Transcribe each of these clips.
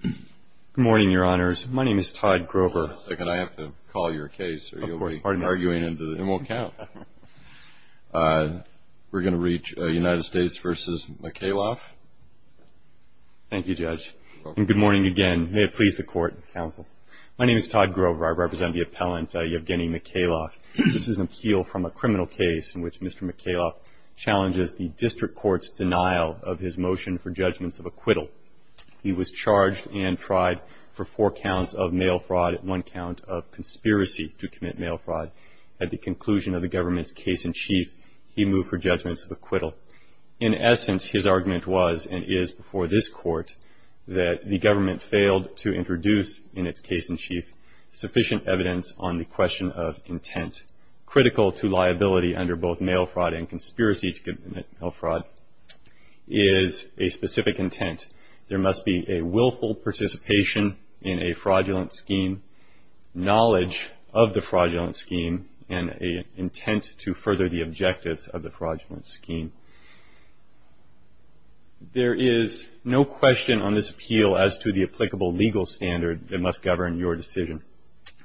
Good morning, Your Honors. My name is Todd Grover. Hold on a second. I have to call your case. Of course. Pardon me. Or you'll be arguing and it won't count. We're going to reach United States v. Mikhaylov. Thank you, Judge. And good morning again. May it please the Court and the Counsel. My name is Todd Grover. I represent the appellant Yevgeny Mikhaylov. This is an appeal from a criminal case in which Mr. Mikhaylov challenges the district court's denial of his motion for judgments of acquittal. He was charged and tried for four counts of mail fraud and one count of conspiracy to commit mail fraud. At the conclusion of the government's case in chief, he moved for judgments of acquittal. In essence, his argument was and is before this Court that the government failed to introduce in its case in chief critical to liability under both mail fraud and conspiracy to commit mail fraud is a specific intent. There must be a willful participation in a fraudulent scheme, knowledge of the fraudulent scheme, and an intent to further the objectives of the fraudulent scheme. There is no question on this appeal as to the applicable legal standard that must govern your decision.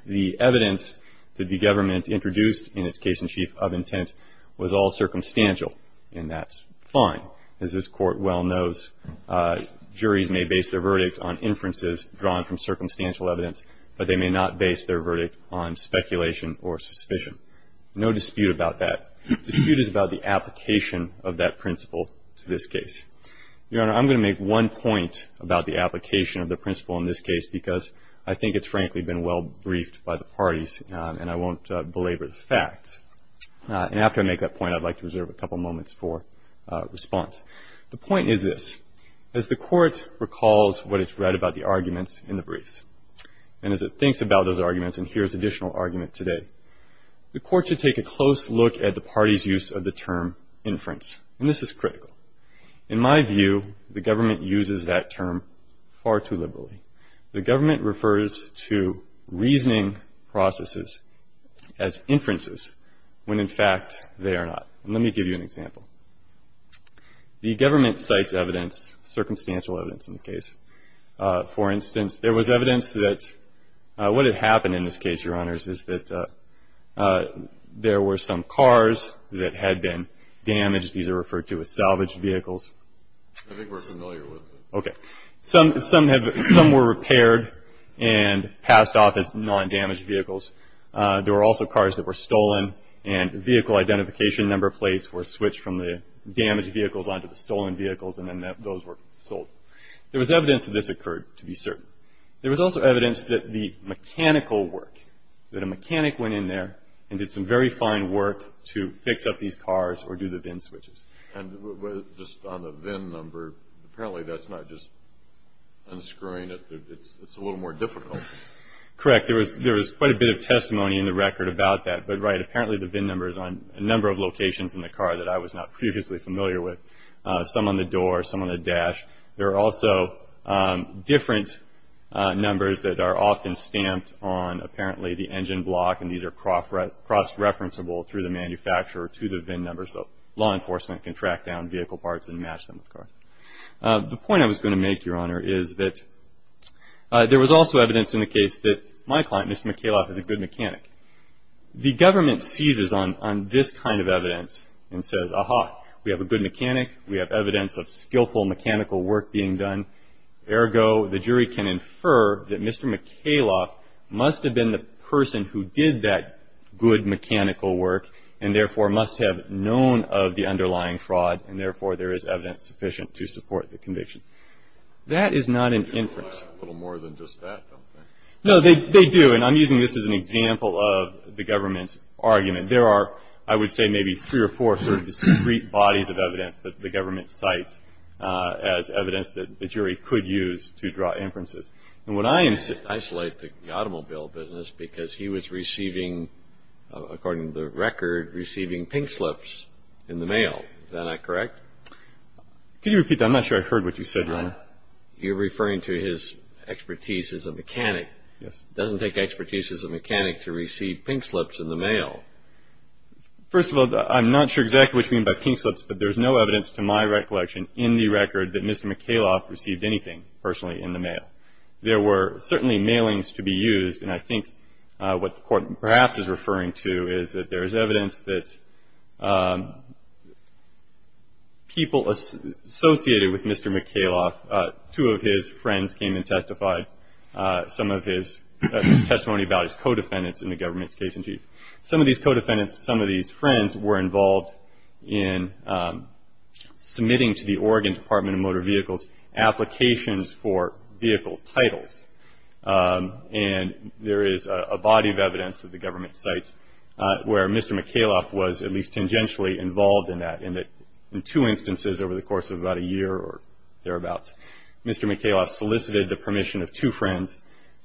The evidence that the government introduced in its case in chief of intent was all circumstantial, and that's fine. As this Court well knows, juries may base their verdict on inferences drawn from circumstantial evidence, but they may not base their verdict on speculation or suspicion. No dispute about that. The dispute is about the application of that principle to this case. Your Honor, I'm going to make one point about the application of the principle in this case because I think it's frankly been well briefed by the parties, and I won't belabor the facts. And after I make that point, I'd like to reserve a couple moments for response. The point is this. As the Court recalls what it's read about the arguments in the briefs, and as it thinks about those arguments and hears additional argument today, the Court should take a close look at the party's use of the term inference, and this is critical. In my view, the government uses that term far too liberally. The government refers to reasoning processes as inferences when, in fact, they are not. And let me give you an example. The government cites evidence, circumstantial evidence in the case. For instance, there was evidence that what had happened in this case, Your Honors, is that there were some cars that had been damaged. These are referred to as salvaged vehicles. I think we're familiar with it. Okay. Some were repaired and passed off as non-damaged vehicles. There were also cars that were stolen, and vehicle identification number plates were switched from the damaged vehicles onto the stolen vehicles, and then those were sold. There was evidence that this occurred, to be certain. There was also evidence that the mechanical work, that a mechanic went in there and did some very fine work to fix up these cars or do the VIN switches. And just on the VIN number, apparently that's not just unscrewing it. It's a little more difficult. Correct. There was quite a bit of testimony in the record about that. But, right, apparently the VIN number is on a number of locations in the car that I was not previously familiar with, some on the door, some on the dash. There are also different numbers that are often stamped on, apparently, the engine block, and these are cross-referenceable through the manufacturer to the VIN number, so law enforcement can track down vehicle parts and match them with cars. The point I was going to make, Your Honor, is that there was also evidence in the case that my client, Mr. McHaloff, is a good mechanic. The government seizes on this kind of evidence and says, Aha, we have a good mechanic, we have evidence of skillful mechanical work being done. Ergo, the jury can infer that Mr. McHaloff must have been the person who did that good mechanical work and therefore must have known of the underlying fraud and therefore there is evidence sufficient to support the conviction. That is not an inference. They rely on a little more than just that, don't they? No, they do. And I'm using this as an example of the government's argument. There are, I would say, maybe three or four sort of discrete bodies of evidence that the government cites as evidence that the jury could use to draw inferences. And what I am saying Isolate the automobile business because he was receiving, according to the record, receiving pink slips in the mail. Is that not correct? Could you repeat that? I'm not sure I heard what you said, Your Honor. You're referring to his expertise as a mechanic. Yes. It doesn't take expertise as a mechanic to receive pink slips in the mail. First of all, I'm not sure exactly what you mean by pink slips, but there's no evidence to my recollection in the record that Mr. McAloff received anything personally in the mail. There were certainly mailings to be used, and I think what the Court perhaps is referring to is that there is evidence that people associated with Mr. McAloff, two of his friends came and testified, some of his testimony about his co-defendants in the government's case in chief. Some of these co-defendants, some of these friends, were involved in submitting to the Oregon Department of Motor Vehicles applications for vehicle titles. And there is a body of evidence that the government cites where Mr. McAloff was at least tangentially involved in that. In two instances over the course of about a year or thereabouts, Mr. McAloff solicited the permission of two friends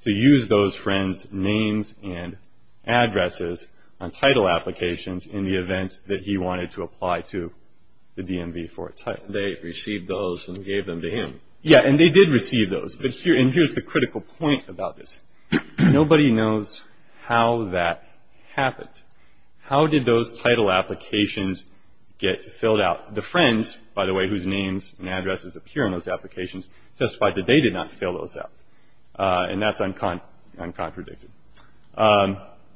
to use those friends' names and addresses on title applications in the event that he wanted to apply to the DMV for a title. They received those and gave them to him. Yes, and they did receive those. And here's the critical point about this. Nobody knows how that happened. How did those title applications get filled out? The friends, by the way, whose names and addresses appear in those applications, testified that they did not fill those out. And that's uncontradicted.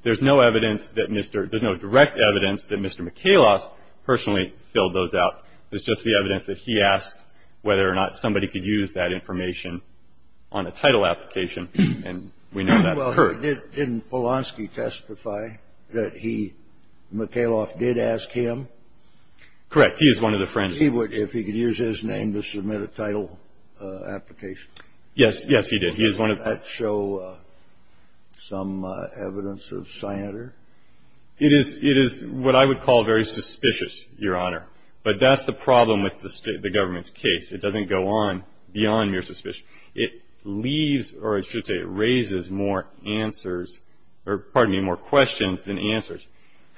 There's no evidence that Mr. There's no direct evidence that Mr. McAloff personally filled those out. It's just the evidence that he asked whether or not somebody could use that information on a title application, and we know that occurred. Well, didn't Polonsky testify that he, McAloff did ask him? Correct. He is one of the friends. He would if he could use his name to submit a title application. Yes. Yes, he did. Did that show some evidence of cyanide? It is what I would call very suspicious, Your Honor. But that's the problem with the government's case. It doesn't go on beyond mere suspicion. It leaves, or I should say it raises more answers or, pardon me, more questions than answers.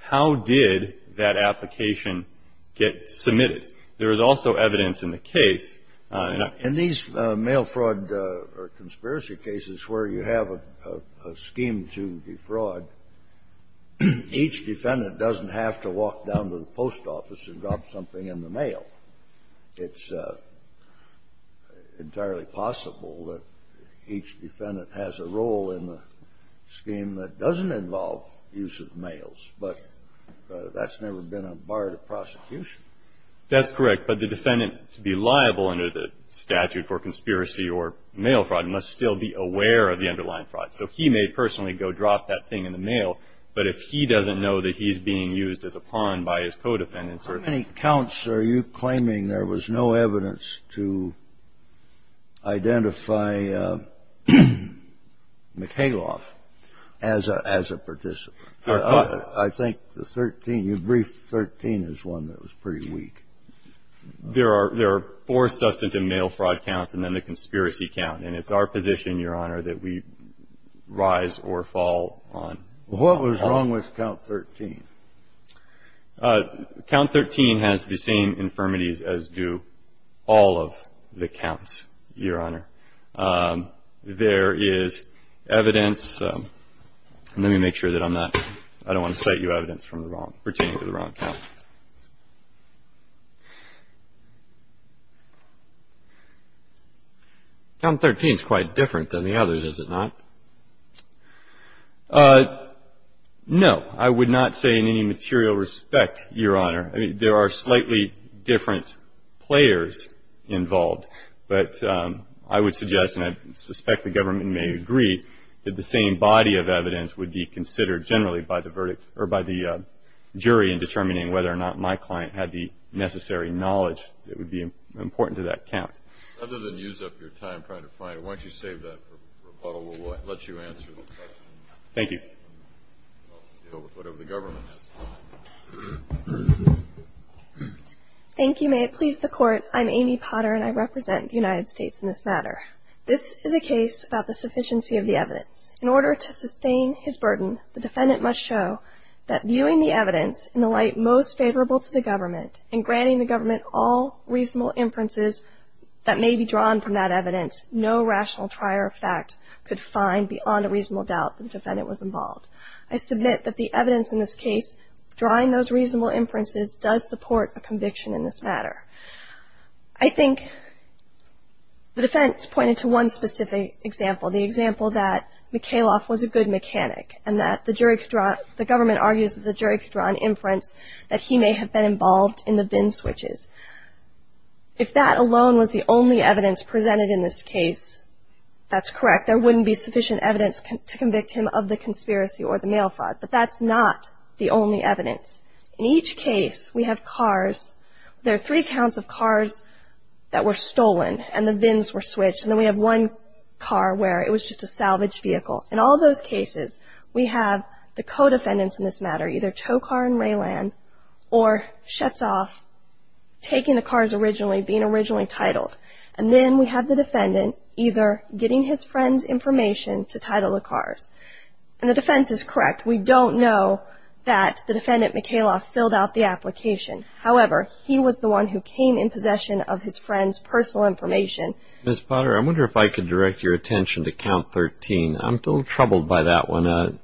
How did that application get submitted? There is also evidence in the case. In these mail fraud or conspiracy cases where you have a scheme to defraud, each defendant doesn't have to walk down to the post office and drop something in the mail. It's entirely possible that each defendant has a role in the scheme that doesn't involve use of mails. But that's never been a bar to prosecution. That's correct. But the defendant, to be liable under the statute for conspiracy or mail fraud, must still be aware of the underlying fraud. So he may personally go drop that thing in the mail. But if he doesn't know that he's being used as a pawn by his co-defendants or others. What counts are you claiming there was no evidence to identify McHaloff as a participant? I think the 13, your brief 13 is one that was pretty weak. There are four substantive mail fraud counts and then the conspiracy count. And it's our position, Your Honor, that we rise or fall on that. What was wrong with count 13? Count 13 has the same infirmities as do all of the counts, Your Honor. There is evidence. Let me make sure that I'm not, I don't want to cite you evidence from the wrong, pertaining to the wrong count. Count 13 is quite different than the others, is it not? No. I would not say in any material respect, Your Honor. I mean, there are slightly different players involved. But I would suggest, and I suspect the government may agree, that the same body of evidence would be considered generally by the verdict or by the jury in determining whether or not my client had the necessary knowledge that would be important to that count. Rather than use up your time trying to find it, why don't you save that for rebuttal and we'll let you answer the question. Thank you. Whatever the government has to say. Thank you. May it please the Court. I'm Amy Potter and I represent the United States in this matter. This is a case about the sufficiency of the evidence. In order to sustain his burden, the defendant must show that viewing the evidence in the light most favorable to the government and granting the government all reasonable inferences that may be drawn from that evidence, no rational trier of fact could find beyond a reasonable doubt that the defendant was involved. I submit that the evidence in this case, drawing those reasonable inferences, does support a conviction in this matter. I think the defense pointed to one specific example, the example that McKayloff was a good mechanic and that the government argues that the jury could draw an inference that he may have been involved in the VIN switches. If that alone was the only evidence presented in this case, that's correct. There wouldn't be sufficient evidence to convict him of the conspiracy or the mail fraud, but that's not the only evidence. In each case, we have cars. There are three counts of cars that were stolen and the VINs were switched and then we have one car where it was just a salvaged vehicle. In all those cases, we have the co-defendants in this matter, either Tow Car and Ray Land or Schatzoff taking the cars originally, being originally titled. And then we have the defendant either getting his friend's information to title the cars. And the defense is correct. We don't know that the defendant, McKayloff, filled out the application. However, he was the one who came in possession of his friend's personal information. Ms. Potter, I wonder if I could direct your attention to Count 13. I'm a little troubled by that one.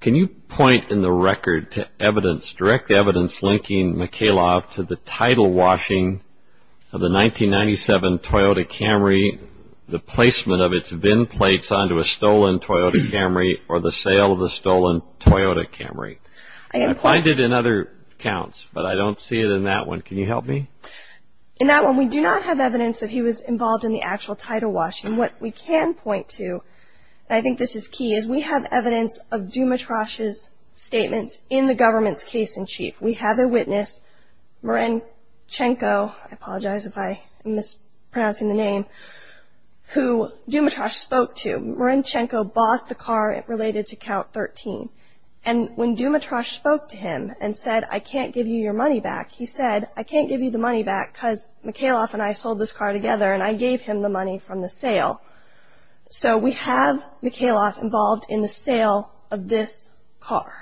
Can you point in the record to evidence, direct evidence linking McKayloff to the title washing of the 1997 Toyota Camry, the placement of its VIN plates onto a stolen Toyota Camry or the sale of the stolen Toyota Camry? I find it in other counts, but I don't see it in that one. Can you help me? In that one, we do not have evidence that he was involved in the actual title washing. And what we can point to, and I think this is key, is we have evidence of Dumitrosch's statements in the government's case in chief. We have a witness, Marinchenko, I apologize if I am mispronouncing the name, who Dumitrosch spoke to. Marinchenko bought the car related to Count 13. And when Dumitrosch spoke to him and said, I can't give you your money back, he said, I can't give you the money back because McKayloff and I sold this car together and I gave him the money from the sale. So we have McKayloff involved in the sale of this car.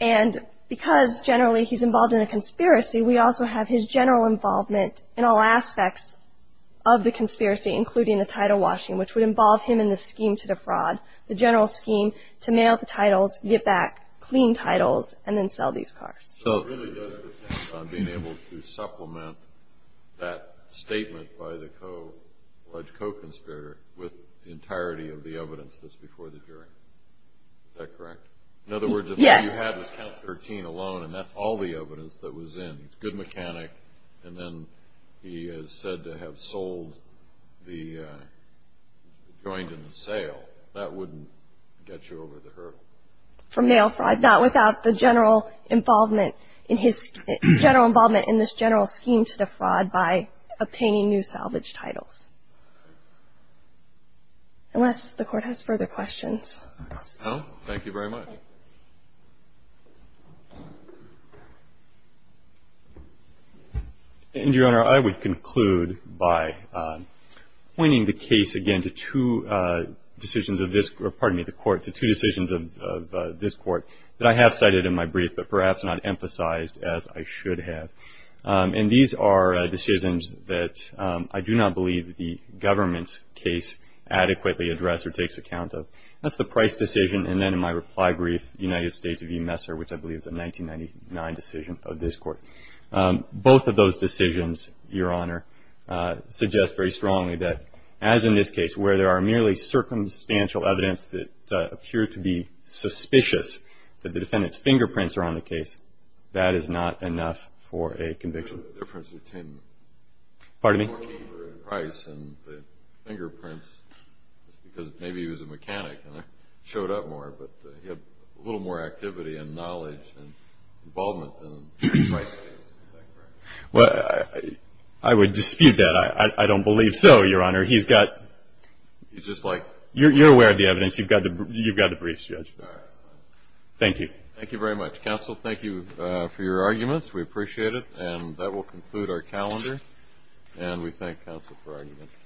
And because generally he's involved in a conspiracy, we also have his general involvement in all aspects of the conspiracy, including the title washing, which would involve him in the scheme to defraud, the general scheme to mail the titles, get back clean titles, and then sell these cars. So it really does depend on being able to supplement that statement by the alleged co-conspirator with the entirety of the evidence that's before the jury. Is that correct? Yes. In other words, if all you had was Count 13 alone and that's all the evidence that was in, he's a good mechanic, and then he is said to have sold the joint in the sale, that wouldn't get you over the hurdle. He would have gotten away from mail fraud, not without the general involvement in this general scheme to defraud by obtaining new salvage titles. Unless the Court has further questions. No. Thank you very much. And, Your Honor, I would conclude by pointing the case again to two decisions of this Court that I have cited in my brief, but perhaps not emphasized as I should have. And these are decisions that I do not believe the government's case adequately addressed or takes account of. That's the Price decision, and then in my reply brief, United States v. Messer, which I believe is a 1999 decision of this Court. Both of those decisions, Your Honor, suggest very strongly that, as in this case, where there are merely circumstantial evidence that appear to be suspicious that the defendant's fingerprints are on the case, that is not enough for a conviction. The difference between the price and the fingerprints is because maybe he was a mechanic and showed up more, but he had a little more activity and knowledge and involvement than Price. Well, I would dispute that. I don't believe so, Your Honor. You're aware of the evidence. You've got the briefs, Judge. Thank you. Thank you very much. Counsel, thank you for your arguments. We appreciate it. And that will conclude our calendar. And we thank counsel for arguments.